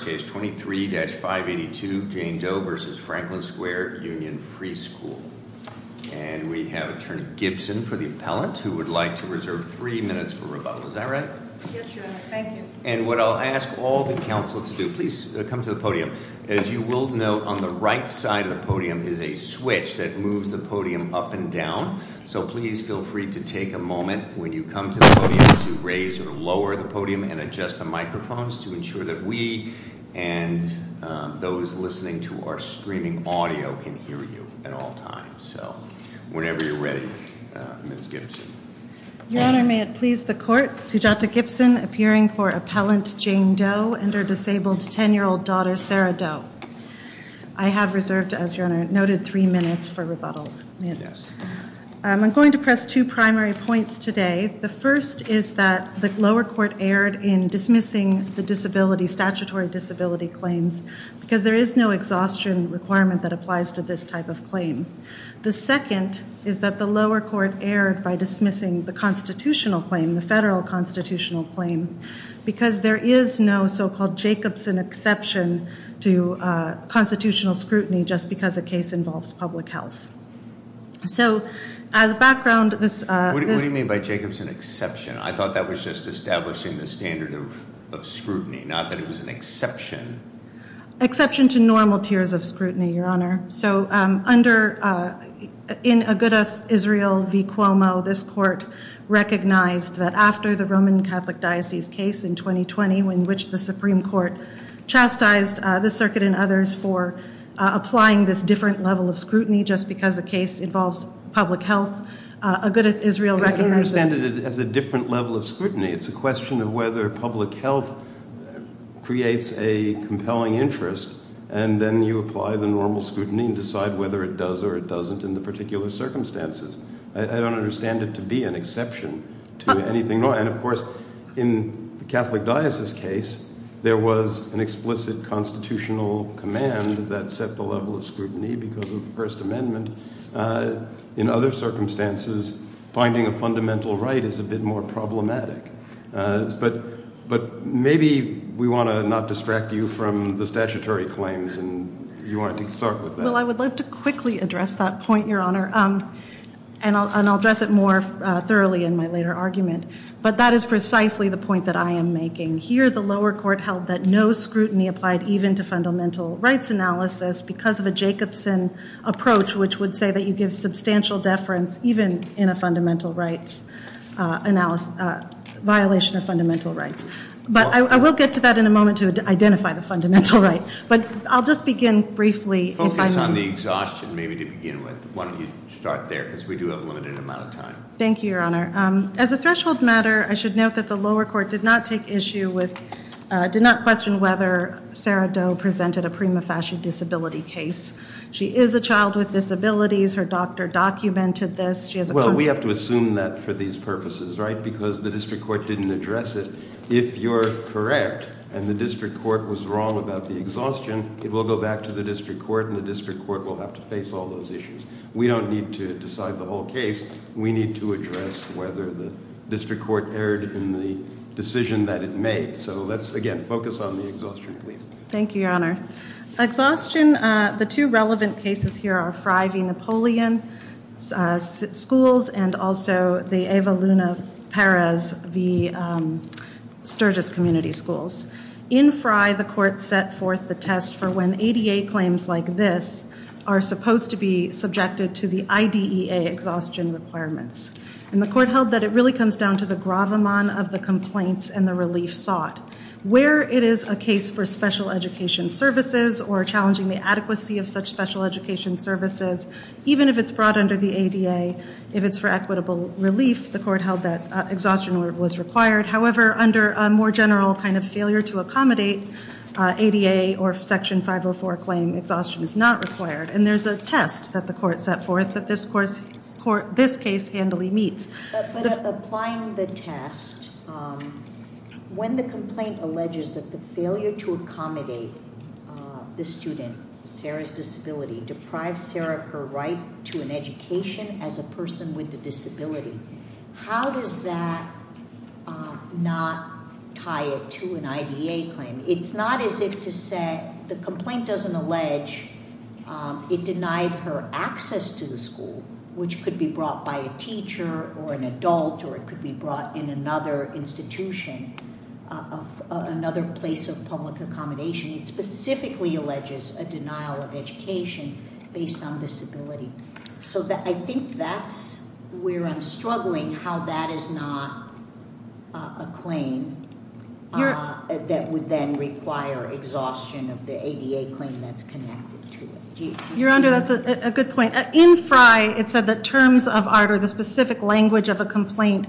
23-582 Jane Doe v. Franklin Square Union Free School And we have Attorney Gibson for the appellant who would like to reserve three minutes for rebuttal. Is that right? Yes, Your Honor. Thank you. And what I'll ask all the counsel to do, please come to the podium. As you will note, on the right side of the podium is a switch that moves the podium up and down. So please feel free to take a moment when you come to the podium to raise or lower the podium and adjust the microphones to ensure that we and those listening to our streaming audio can hear you at all times. So whenever you're ready, Ms. Gibson. Your Honor, may it please the Court, Sujata Gibson appearing for appellant Jane Doe and her disabled 10-year-old daughter Sarah Doe. I have reserved, as Your Honor noted, three minutes for rebuttal. I'm going to press two primary points today. The first is that the lower court erred in dismissing the statutory disability claims because there is no exhaustion requirement that applies to this type of claim. The second is that the lower court erred by dismissing the constitutional claim, the federal constitutional claim, because there is no so-called Jacobson exception to constitutional scrutiny just because a case involves public health. So as background, this- What do you mean by Jacobson exception? I thought that was just establishing the standard of scrutiny, not that it was an exception. Exception to normal tiers of scrutiny, Your Honor. So under, in Agudath Israel v. Cuomo, this court recognized that after the Roman Catholic Diocese case in 2020, in which the Supreme Court chastised the circuit and others for applying this different level of scrutiny just because a case involves public health, Agudath Israel recognized- I don't understand it as a different level of scrutiny. It's a question of whether public health creates a compelling interest, and then you apply the normal scrutiny and decide whether it does or it doesn't in the particular circumstances. I don't understand it to be an exception to anything. And, of course, in the Catholic Diocese case, there was an explicit constitutional command that set the level of scrutiny because of the First Amendment. In other circumstances, finding a fundamental right is a bit more problematic. But maybe we want to not distract you from the statutory claims, and you wanted to start with that. Well, I would like to quickly address that point, Your Honor, and I'll address it more thoroughly in my later argument. But that is precisely the point that I am making. Here, the lower court held that no scrutiny applied even to fundamental rights analysis because of a Jacobson approach, which would say that you give substantial deference even in a violation of fundamental rights. But I will get to that in a moment to identify the fundamental right. But I'll just begin briefly- Focus on the exhaustion maybe to begin with. Why don't you start there, because we do have a limited amount of time. Thank you, Your Honor. As a threshold matter, I should note that the lower court did not take issue with- did not question whether Sarah Doe presented a prima facie disability case. She is a child with disabilities. Her doctor documented this. She has a- Well, we have to assume that for these purposes, right, because the district court didn't address it. If you're correct and the district court was wrong about the exhaustion, it will go back to the district court, and the district court will have to face all those issues. We don't need to decide the whole case. We need to address whether the district court erred in the decision that it made. So let's, again, focus on the exhaustion, please. Thank you, Your Honor. Exhaustion, the two relevant cases here are Fry v. Napoleon Schools and also the Eva Luna Perez v. Sturgis Community Schools. In Fry, the court set forth the test for when ADA claims like this are supposed to be subjected to the IDEA exhaustion requirements. And the court held that it really comes down to the gravamon of the complaints and the relief sought. Where it is a case for special education services or challenging the adequacy of such special education services, even if it's brought under the ADA, if it's for equitable relief, the court held that exhaustion was required. However, under a more general kind of failure to accommodate ADA or Section 504 claim, exhaustion is not required. And there's a test that the court set forth that this case handily meets. But applying the test, when the complaint alleges that the failure to accommodate the student, Sarah's disability, deprives Sarah of her right to an education as a person with a disability, how does that not tie it to an IDEA claim? It's not as if to say the complaint doesn't allege it denied her access to the school, which could be brought by a teacher or an adult or it could be brought in another institution, another place of public accommodation. It specifically alleges a denial of education based on disability. So I think that's where I'm struggling, how that is not a claim that would then require exhaustion of the ADA claim that's connected to it. Your Honor, that's a good point. In Frye, it said that terms of art or the specific language of a complaint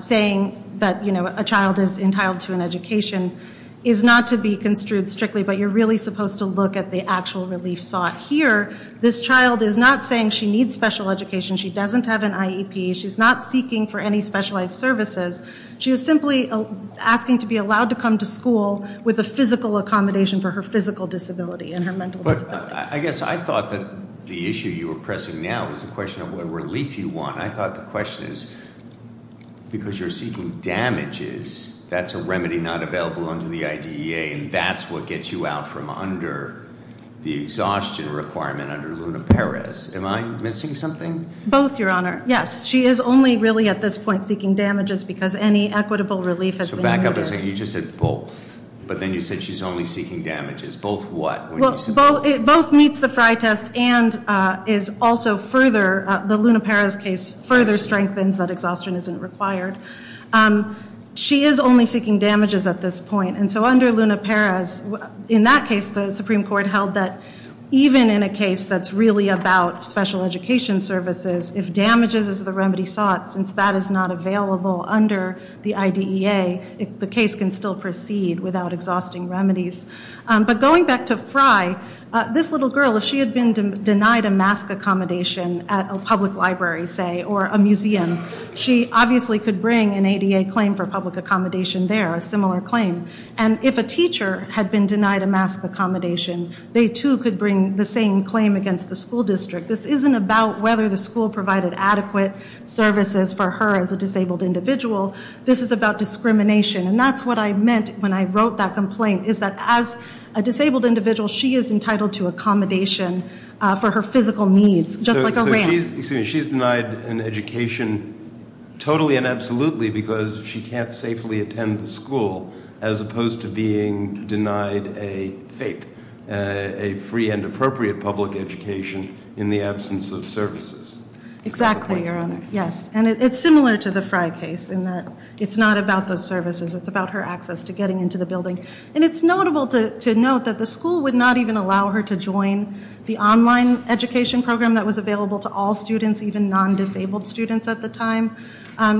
saying that a child is entitled to an education is not to be construed strictly, but you're really supposed to look at the actual relief sought. Here, this child is not saying she needs special education. She doesn't have an IEP. She's not seeking for any specialized services. She is simply asking to be allowed to come to school with a physical accommodation for her physical disability and her mental disability. But I guess I thought that the issue you were pressing now was the question of what relief you want. I thought the question is, because you're seeking damages, that's a remedy not available under the IDEA, and that's what gets you out from under the exhaustion requirement under Luna Perez. Am I missing something? Both, Your Honor. Yes, she is only really at this point seeking damages because any equitable relief has been needed. So back up a second. You just said both, but then you said she's only seeking damages. Both what? Well, both meets the Frye test and is also further, the Luna Perez case, further strengthens that exhaustion isn't required. She is only seeking damages at this point. And so under Luna Perez, in that case, the Supreme Court held that even in a case that's really about special education services, if damages is the remedy sought, since that is not available under the IDEA, the case can still proceed without exhausting remedies. But going back to Frye, this little girl, if she had been denied a mask accommodation at a public library, say, or a museum, she obviously could bring an ADA claim for public accommodation there, a similar claim. And if a teacher had been denied a mask accommodation, they too could bring the same claim against the school district. This isn't about whether the school provided adequate services for her as a disabled individual. This is about discrimination, and that's what I meant when I wrote that complaint, is that as a disabled individual, she is entitled to accommodation for her physical needs, just like a ramp. Excuse me. She's denied an education totally and absolutely because she can't safely attend the school, as opposed to being denied a FAPE, a free and appropriate public education, in the absence of services. Exactly, Your Honor. Yes. And it's similar to the Frye case, in that it's not about those services. It's about her access to getting into the building. And it's notable to note that the school would not even allow her to join the online education program that was available to all students, even non-disabled students at the time.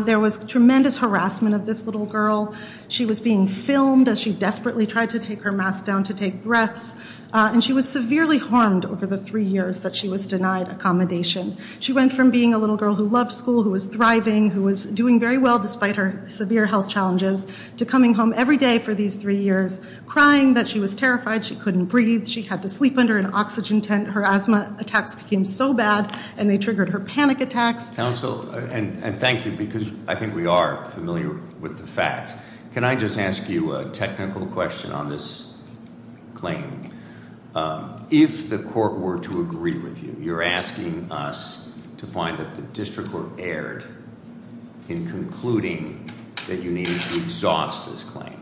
There was tremendous harassment of this little girl. She was being filmed as she desperately tried to take her mask down to take breaths, and she was severely harmed over the three years that she was denied accommodation. She went from being a little girl who loved school, who was thriving, who was doing very well despite her severe health challenges, to coming home every day for these three years crying that she was terrified, she couldn't breathe, she had to sleep under an oxygen tent. Her asthma attacks became so bad, and they triggered her panic attacks. Counsel, and thank you, because I think we are familiar with the fact. Can I just ask you a technical question on this claim? If the court were to agree with you, you're asking us to find that the district court erred in concluding that you need to exhaust this claim.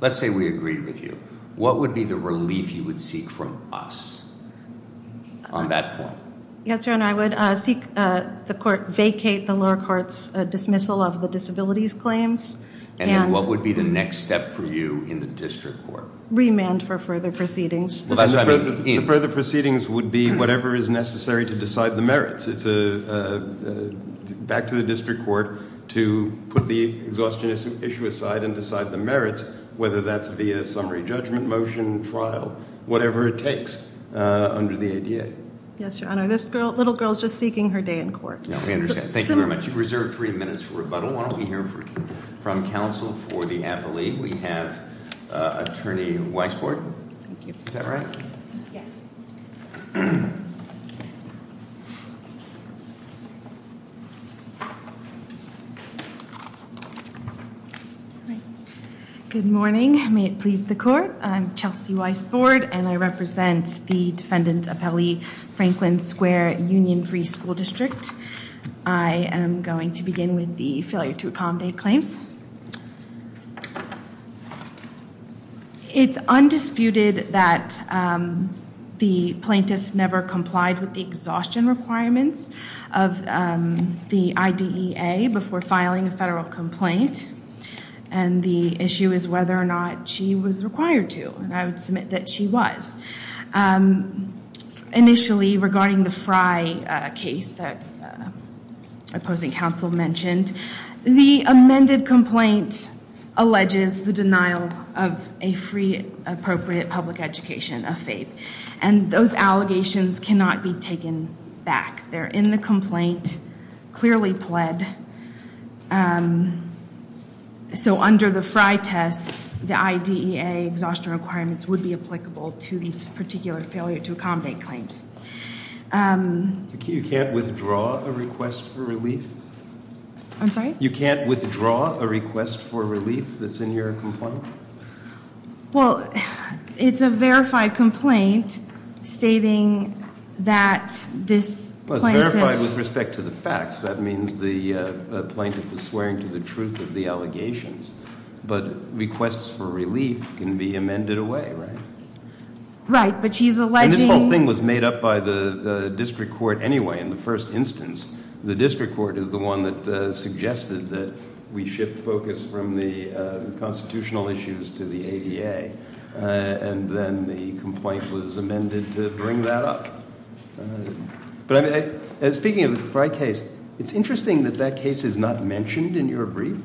Let's say we agree with you. What would be the relief you would seek from us on that point? Yes, your honor, I would seek the court vacate the lower court's dismissal of the disabilities claims. And then what would be the next step for you in the district court? Remand for further proceedings. The further proceedings would be whatever is necessary to decide the merits. It's back to the district court to put the exhaustion issue aside and decide the merits, whether that's via summary judgment motion, trial, whatever it takes under the ADA. Yes, your honor. This little girl is just seeking her day in court. We understand. Thank you very much. You've reserved three minutes for rebuttal. Why don't we hear from counsel for the appellate. We have attorney Weisbord. Is that right? Yes. Good morning. May it please the court. I'm Chelsea Weisbord, and I represent the defendant appellee, Franklin Square Union Free School District. I am going to begin with the failure to accommodate claims. It's undisputed that the plaintiff never complied with the exhaustion requirements of the IDEA before filing a federal complaint. And the issue is whether or not she was required to. And I would submit that she was. Initially, regarding the Fry case that opposing counsel mentioned, the amended complaint alleges the denial of a free, appropriate public education of FAPE. And those allegations cannot be taken back. They're in the complaint, clearly pled. So under the Fry test, the IDEA exhaustion requirements would be applicable to these particular failure to accommodate claims. You can't withdraw a request for relief? I'm sorry? You can't withdraw a request for relief that's in your complaint? Well, it's a verified complaint stating that this plaintiff- Well, it's verified with respect to the facts. That means the plaintiff is swearing to the truth of the allegations. But requests for relief can be amended away, right? Right, but she's alleging- And this whole thing was made up by the district court anyway in the first instance. The district court is the one that suggested that we shift focus from the constitutional issues to the ADA. And then the complaint was amended to bring that up. But speaking of the Fry case, it's interesting that that case is not mentioned in your brief.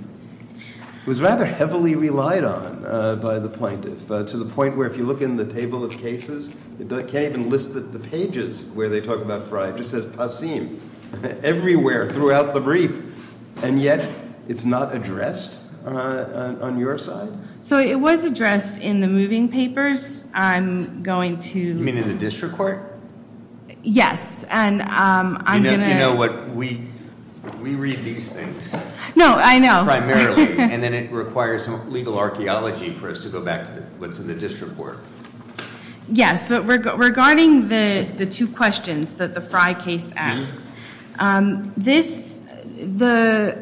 It was rather heavily relied on by the plaintiff to the point where if you look in the table of cases, it can't even list the pages where they talk about Fry. It just says Passim everywhere throughout the brief. And yet it's not addressed on your side? So it was addressed in the moving papers. I'm going to- You mean in the district court? Yes, and I'm going to- You know what, we read these things. No, I know. Primarily. And then it requires some legal archaeology for us to go back to what's in the district court. Yes, but regarding the two questions that the Fry case asks, the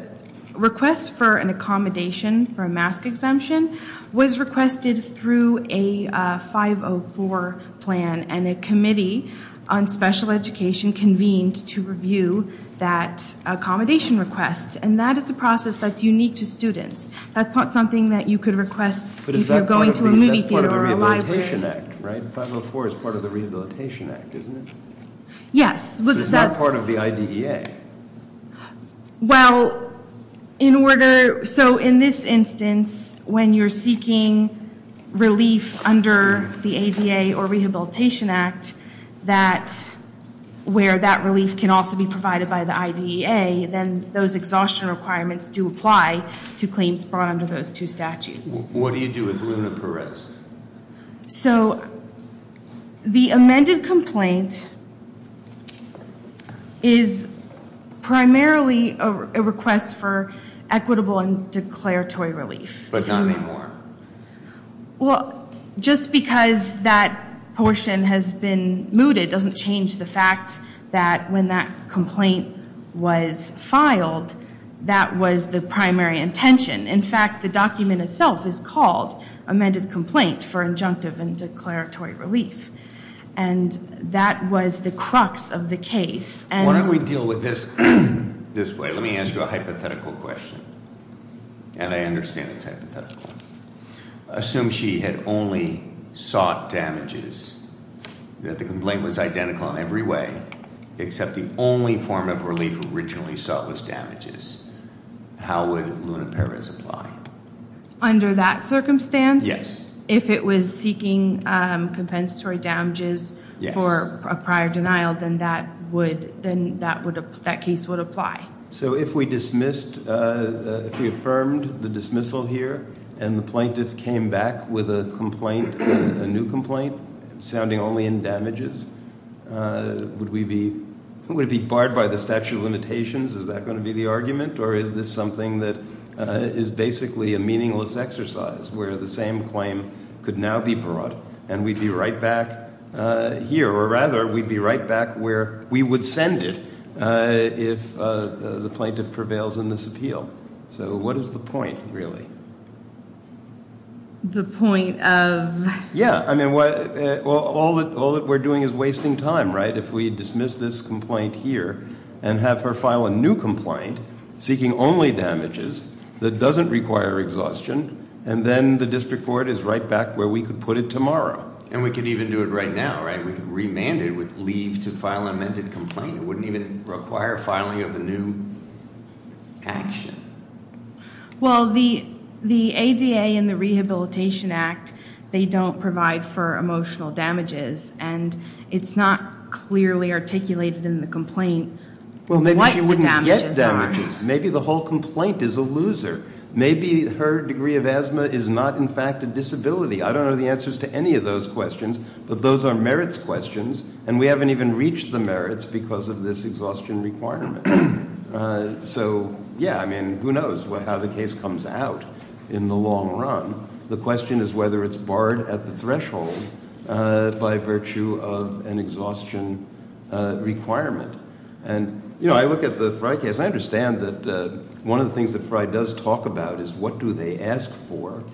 request for an accommodation for a mask exemption was requested through a 504 plan. And a committee on special education convened to review that accommodation request. And that is a process that's unique to students. That's not something that you could request if you're going to a movie theater or a library. But that's part of the Rehabilitation Act, right? 504 is part of the Rehabilitation Act, isn't it? Yes. So it's not part of the IDEA? Well, in order- So in this instance, when you're seeking relief under the ADA or Rehabilitation Act, where that relief can also be provided by the IDEA, then those exhaustion requirements do apply to claims brought under those two statutes. What do you do with Luna Perez? So the amended complaint is primarily a request for equitable and declaratory relief. But not anymore? Well, just because that portion has been mooted doesn't change the fact that when that complaint was filed, that was the primary intention. In fact, the document itself is called Amended Complaint for Injunctive and Declaratory Relief. And that was the crux of the case. Why don't we deal with this this way? Let me ask you a hypothetical question. And I understand it's hypothetical. Assume she had only sought damages, that the complaint was identical in every way, except the only form of relief originally sought was damages. How would Luna Perez apply? Under that circumstance? Yes. If it was seeking compensatory damages for a prior denial, then that case would apply. So if we dismissed, if we affirmed the dismissal here, and the plaintiff came back with a complaint, a new complaint, sounding only in damages, would it be barred by the statute of limitations? Is that going to be the argument? Or is this something that is basically a meaningless exercise where the same claim could now be brought and we'd be right back here? Or rather, we'd be right back where we would send it if the plaintiff prevails in this appeal. So what is the point, really? The point of? Yeah. I mean, all that we're doing is wasting time, right? If we dismiss this complaint here and have her file a new complaint, seeking only damages, that doesn't require exhaustion, and then the district court is right back where we could put it tomorrow. And we could even do it right now, right? We could remand it with leave to file amended complaint. It wouldn't even require filing of a new action. Well, the ADA and the Rehabilitation Act, they don't provide for emotional damages, and it's not clearly articulated in the complaint what the damages are. Well, maybe she wouldn't get damages. Maybe the whole complaint is a loser. Maybe her degree of asthma is not, in fact, a disability. I don't know the answers to any of those questions, but those are merits questions, and we haven't even reached the merits because of this exhaustion requirement. So, yeah, I mean, who knows how the case comes out in the long run. The question is whether it's barred at the threshold by virtue of an exhaustion requirement. And, you know, I look at the Frye case. I understand that one of the things that Frye does talk about is what do they ask for,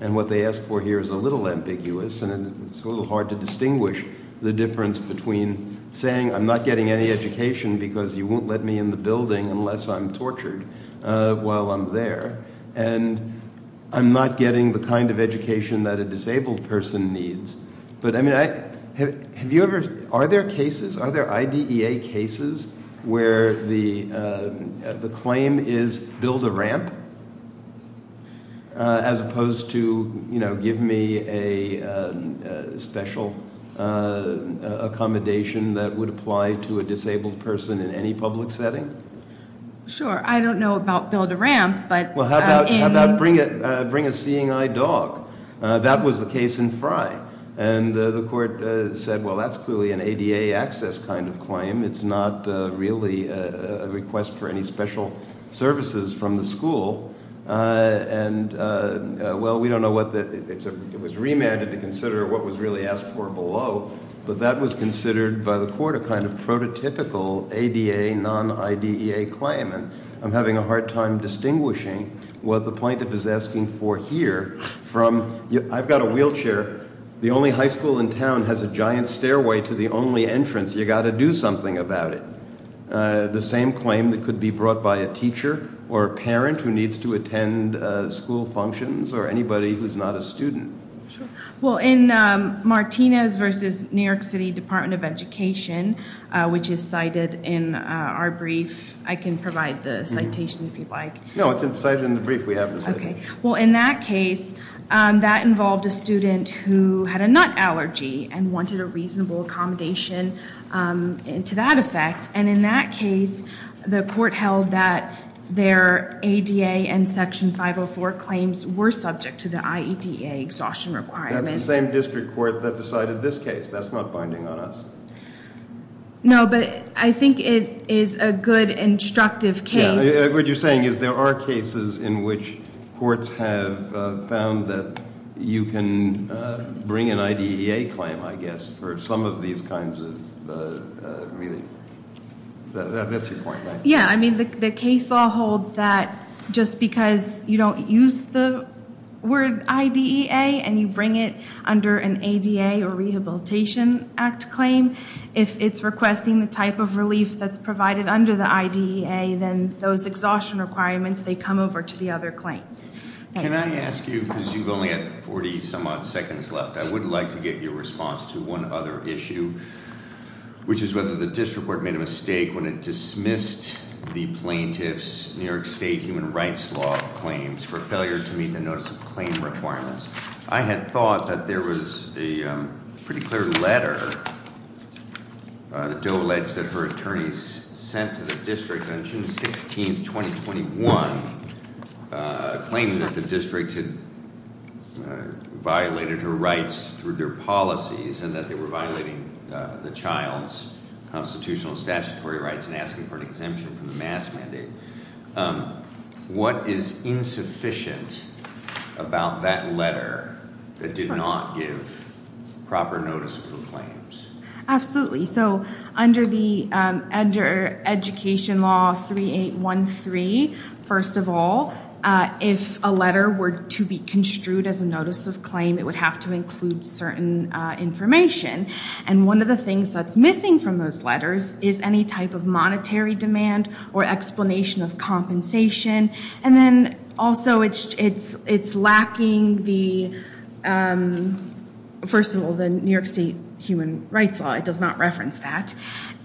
and what they ask for here is a little ambiguous, and it's a little hard to distinguish the difference between saying, I'm not getting any education because you won't let me in the building unless I'm tortured while I'm there, and I'm not getting the kind of education that a disabled person needs. But, I mean, are there cases, are there IDEA cases where the claim is build a ramp as opposed to, you know, give me a special accommodation that would apply to a disabled person in any public setting? Sure. I don't know about build a ramp, but in- Well, how about bring a seeing eye dog? That was the case in Frye. And the court said, well, that's clearly an ADA access kind of claim. It's not really a request for any special services from the school. And, well, we don't know what the, it was remanded to consider what was really asked for below, but that was considered by the court a kind of prototypical ADA, non-IDEA claim, and I'm having a hard time distinguishing what the plaintiff is asking for here from, I've got a wheelchair. The only high school in town has a giant stairway to the only entrance. You've got to do something about it. The same claim that could be brought by a teacher or a parent who needs to attend school functions or anybody who's not a student. Sure. Well, in Martinez v. New York City Department of Education, which is cited in our brief, I can provide the citation if you'd like. No, it's cited in the brief we have. Okay. Well, in that case, that involved a student who had a nut allergy and wanted a reasonable accommodation to that effect, and in that case, the court held that their ADA and Section 504 claims were subject to the IEDA exhaustion requirement. That's the same district court that decided this case. That's not binding on us. No, but I think it is a good, instructive case. What you're saying is there are cases in which courts have found that you can bring an IDEA claim, I guess, for some of these kinds of relief. That's your point, right? Yeah, I mean, the case law holds that just because you don't use the word IDEA and you bring it under an ADA or Rehabilitation Act claim, if it's requesting the type of relief that's provided under the IDEA, then those exhaustion requirements, they come over to the other claims. Can I ask you, because you've only had 40 some odd seconds left, I would like to get your response to one other issue, which is whether the district court made a mistake when it dismissed the plaintiff's New York State human rights law claims for failure to meet the notice of claim requirements. I had thought that there was a pretty clear letter that Doe alleged that her attorneys sent to the district on June 16th, 2021, claiming that the district had violated her rights through their policies and that they were violating the child's constitutional statutory rights and asking for an exemption from the mask mandate. What is insufficient about that letter that did not give proper notice of the claims? Absolutely. So under Education Law 3813, first of all, if a letter were to be construed as a notice of claim, it would have to include certain information. And one of the things that's missing from those letters is any type of monetary demand or explanation of compensation. And then also it's lacking the, first of all, the New York State human rights law. It does not reference that.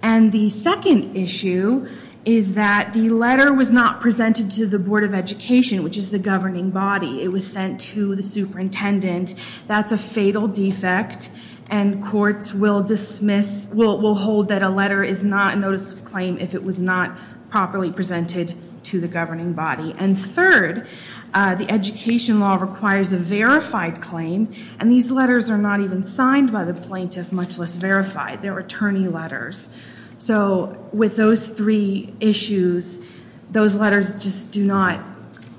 And the second issue is that the letter was not presented to the Board of Education, which is the governing body. It was sent to the superintendent. That's a fatal defect, and courts will dismiss, will hold that a letter is not a notice of claim if it was not properly presented to the governing body. And third, the Education Law requires a verified claim, and these letters are not even signed by the plaintiff, much less verified. They're attorney letters. So with those three issues, those letters just do not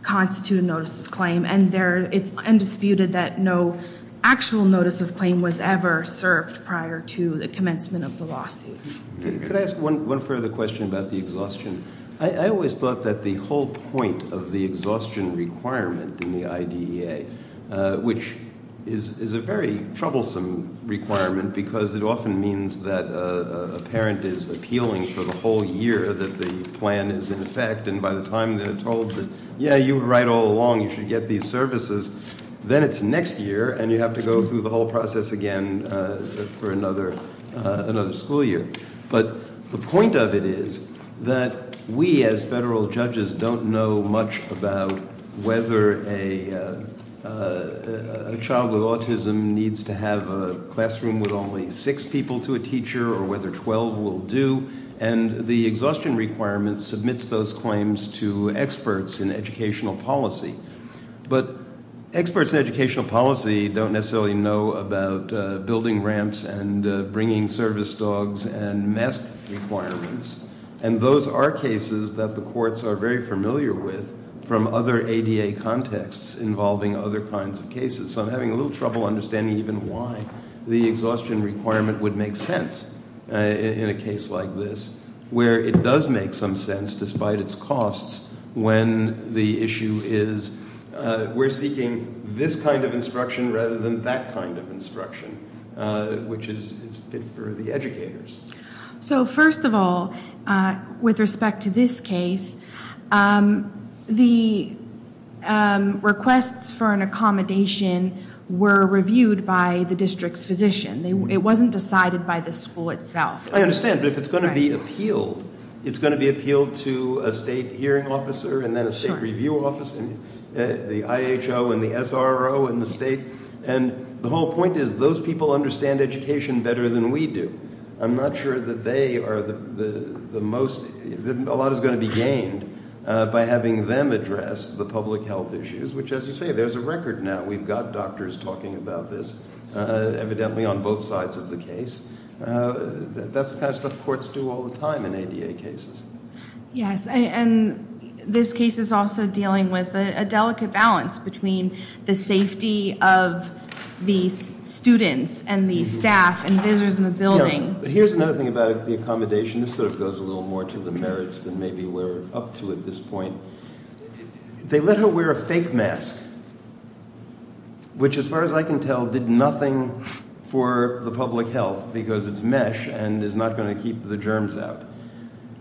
constitute a notice of claim, and it's undisputed that no actual notice of claim was ever served prior to the commencement of the lawsuits. Could I ask one further question about the exhaustion? I always thought that the whole point of the exhaustion requirement in the IDEA, which is a very troublesome requirement because it often means that a parent is appealing for the whole year that the plan is in effect, and by the time they're told that, yeah, you were right all along. You should get these services. Then it's next year, and you have to go through the whole process again for another school year. But the point of it is that we as federal judges don't know much about whether a child with autism needs to have a classroom with only six people to a teacher or whether 12 will do. And the exhaustion requirement submits those claims to experts in educational policy. But experts in educational policy don't necessarily know about building ramps and bringing service dogs and mask requirements, and those are cases that the courts are very familiar with from other ADA contexts involving other kinds of cases. So I'm having a little trouble understanding even why the exhaustion requirement would make sense in a case like this, where it does make some sense despite its costs when the issue is, we're seeking this kind of instruction rather than that kind of instruction, which is good for the educators. So first of all, with respect to this case, the requests for an accommodation were reviewed by the district's physician. It wasn't decided by the school itself. I understand, but if it's going to be appealed, it's going to be appealed to a state hearing officer and then a state review officer, the IHO and the SRO in the state. And the whole point is those people understand education better than we do. I'm not sure that they are the most, a lot is going to be gained by having them address the public health issues, which as you say, there's a record now. We've got doctors talking about this, evidently on both sides of the case. That's the kind of stuff courts do all the time in ADA cases. Yes, and this case is also dealing with a delicate balance between the safety of the students and the staff and visitors in the building. Here's another thing about the accommodation. This sort of goes a little more to the merits than maybe we're up to at this point. They let her wear a fake mask, which as far as I can tell, did nothing for the public health because it's mesh and is not going to keep the germs out.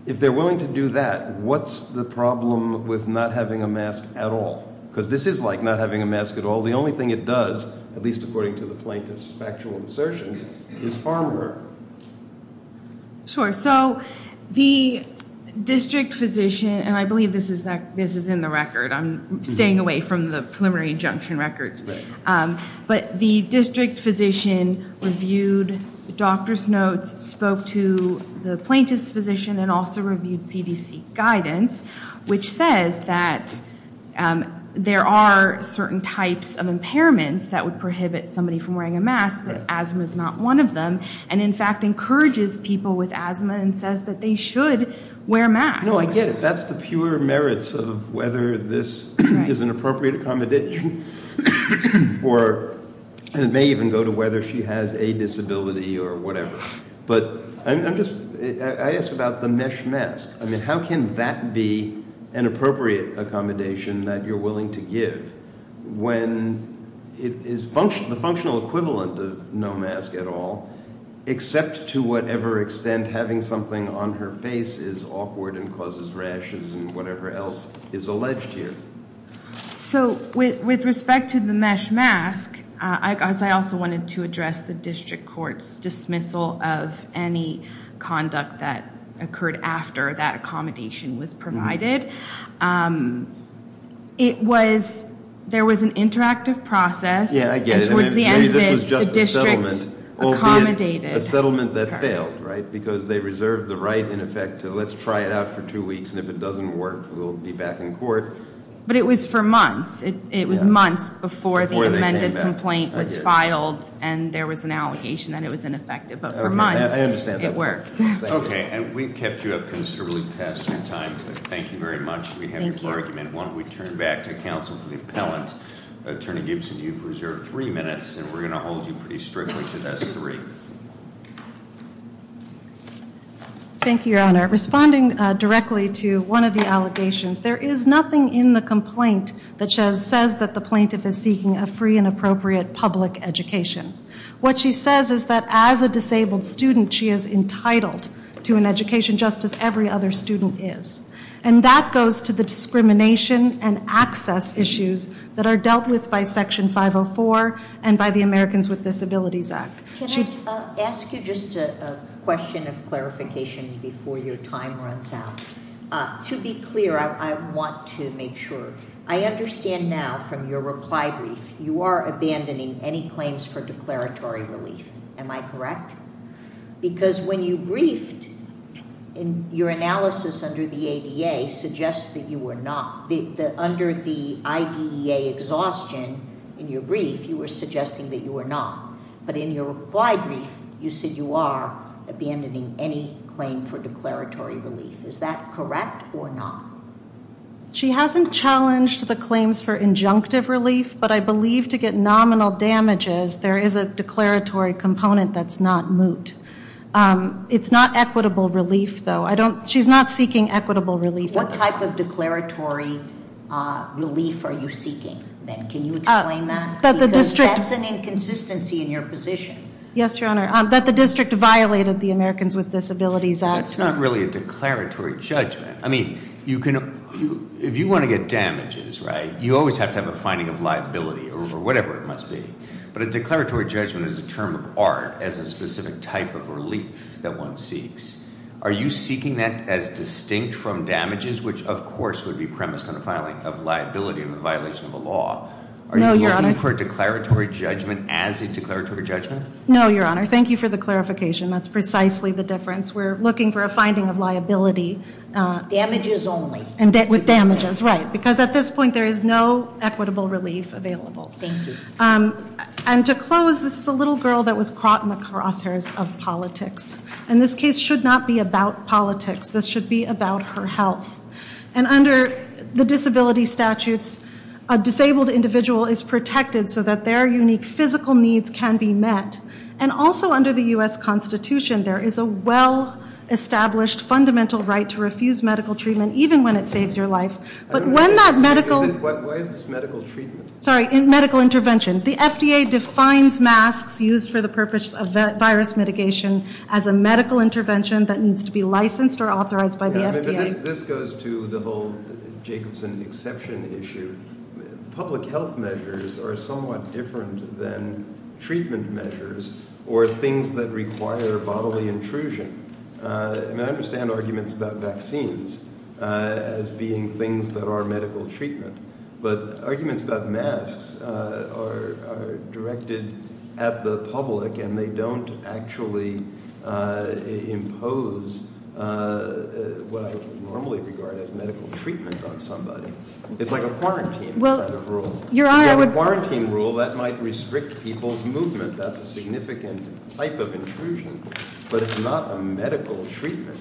If they're willing to do that, what's the problem with not having a mask at all? Because this is like not having a mask at all. The only thing it does, at least according to the plaintiff's factual assertions, is farm her. Sure. So the district physician, and I believe this is that this is in the record. I'm staying away from the preliminary injunction records, but the district physician reviewed the doctor's notes, spoke to the plaintiff's physician and also reviewed CDC guidance, which says that there are certain types of impairments that would prohibit somebody from wearing a mask. But asthma is not one of them. And in fact, encourages people with asthma and says that they should wear masks. No, I get it. That's the pure merits of whether this is an appropriate accommodation for, and it may even go to whether she has a disability or whatever. But I'm just, I ask about the mesh mask. I mean, how can that be an appropriate accommodation that you're willing to give when it is the functional equivalent of no mask at all, except to whatever extent having something on her face is awkward and causes rashes and whatever else is alleged here? So with respect to the mesh mask, I also wanted to address the district court's dismissal of any conduct that occurred after that accommodation was provided. It was, there was an interactive process. Yeah, I get it. And to the end of it, the district accommodated- A settlement that failed, right? Because they reserved the right, in effect, to let's try it out for two weeks, and if it doesn't work, we'll be back in court. But it was for months. It was months before the amended complaint was filed, and there was an allegation that it was ineffective. But for months, it worked. Okay, and we've kept you up considerably past your time. Thank you very much. We have your full argument. Why don't we turn back to council for the appellant. Attorney Gibson, you've reserved three minutes, and we're going to hold you pretty strictly to those three. Thank you, Your Honor. Responding directly to one of the allegations, there is nothing in the complaint that says that the plaintiff is seeking a free and appropriate public education. What she says is that as a disabled student, she is entitled to an education just as every other student is. And that goes to the discrimination and access issues that are dealt with by Section 504 and by the Americans with Disabilities Act. Can I ask you just a question of clarification before your time runs out? To be clear, I want to make sure. I understand now from your reply brief, you are abandoning any claims for declaratory relief. Am I correct? Because when you briefed, your analysis under the ADA suggests that you were not. Under the IDEA exhaustion in your brief, you were suggesting that you were not. But in your reply brief, you said you are abandoning any claim for declaratory relief. Is that correct or not? She hasn't challenged the claims for injunctive relief, but I believe to get nominal damages, there is a declaratory component that's not moot. It's not equitable relief, though. She's not seeking equitable relief. What type of declaratory relief are you seeking, then? Can you explain that? Because that's an inconsistency in your position. Yes, Your Honor. That the district violated the Americans with Disabilities Act. That's not really a declaratory judgment. I mean, if you want to get damages, right, you always have to have a finding of liability or whatever it must be. But a declaratory judgment is a term of art as a specific type of relief that one seeks. Are you seeking that as distinct from damages, which of course would be premised on a filing of liability in the violation of a law? No, Your Honor. Are you looking for a declaratory judgment as a declaratory judgment? No, Your Honor. Thank you for the clarification. That's precisely the difference. We're looking for a finding of liability. Damages only. With damages, right. Because at this point, there is no equitable relief available. Thank you. And to close, this is a little girl that was caught in the crosshairs of politics. And this case should not be about politics. This should be about her health. And under the disability statutes, a disabled individual is protected so that their unique physical needs can be met. And also under the U.S. Constitution, there is a well-established fundamental right to refuse medical treatment even when it saves your life. But when that medical – Why is this medical treatment? Sorry, medical intervention. The FDA defines masks used for the purpose of virus mitigation as a medical intervention that needs to be licensed or authorized by the FDA. This goes to the whole Jacobson exception issue. Public health measures are somewhat different than treatment measures or things that require bodily intrusion. And I understand arguments about vaccines as being things that are medical treatment. But arguments about masks are directed at the public and they don't actually impose what I would normally regard as medical treatment on somebody. It's like a quarantine kind of rule. Well, Your Honor, I would – A quarantine rule that might restrict people's movement. That's a significant type of intrusion. But it's not a medical treatment.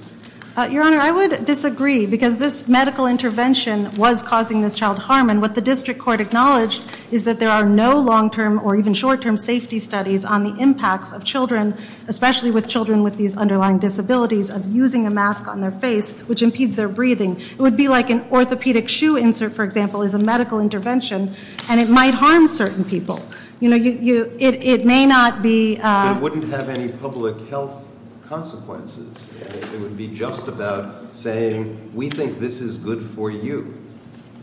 Your Honor, I would disagree because this medical intervention was causing this child harm. And what the district court acknowledged is that there are no long-term or even short-term safety studies on the impacts of children, especially with children with these underlying disabilities, of using a mask on their face, which impedes their breathing. It would be like an orthopedic shoe insert, for example, is a medical intervention. And it might harm certain people. You know, it may not be – It wouldn't have any public health consequences. It would be just about saying, we think this is good for you.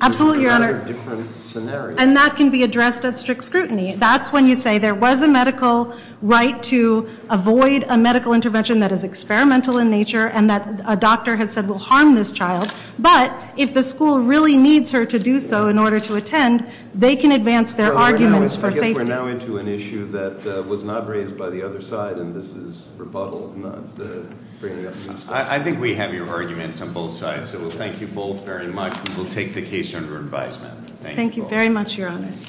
Absolutely, Your Honor. There's a lot of different scenarios. And that can be addressed at strict scrutiny. That's when you say there was a medical right to avoid a medical intervention that is experimental in nature and that a doctor has said will harm this child. But if the school really needs her to do so in order to attend, they can advance their arguments for safety. I think we're now into an issue that was not raised by the other side, and this is rebuttal, not bringing up the issue. I think we have your arguments on both sides. So thank you both very much. We will take the case under advisement. Thank you. Thank you very much, Your Honors.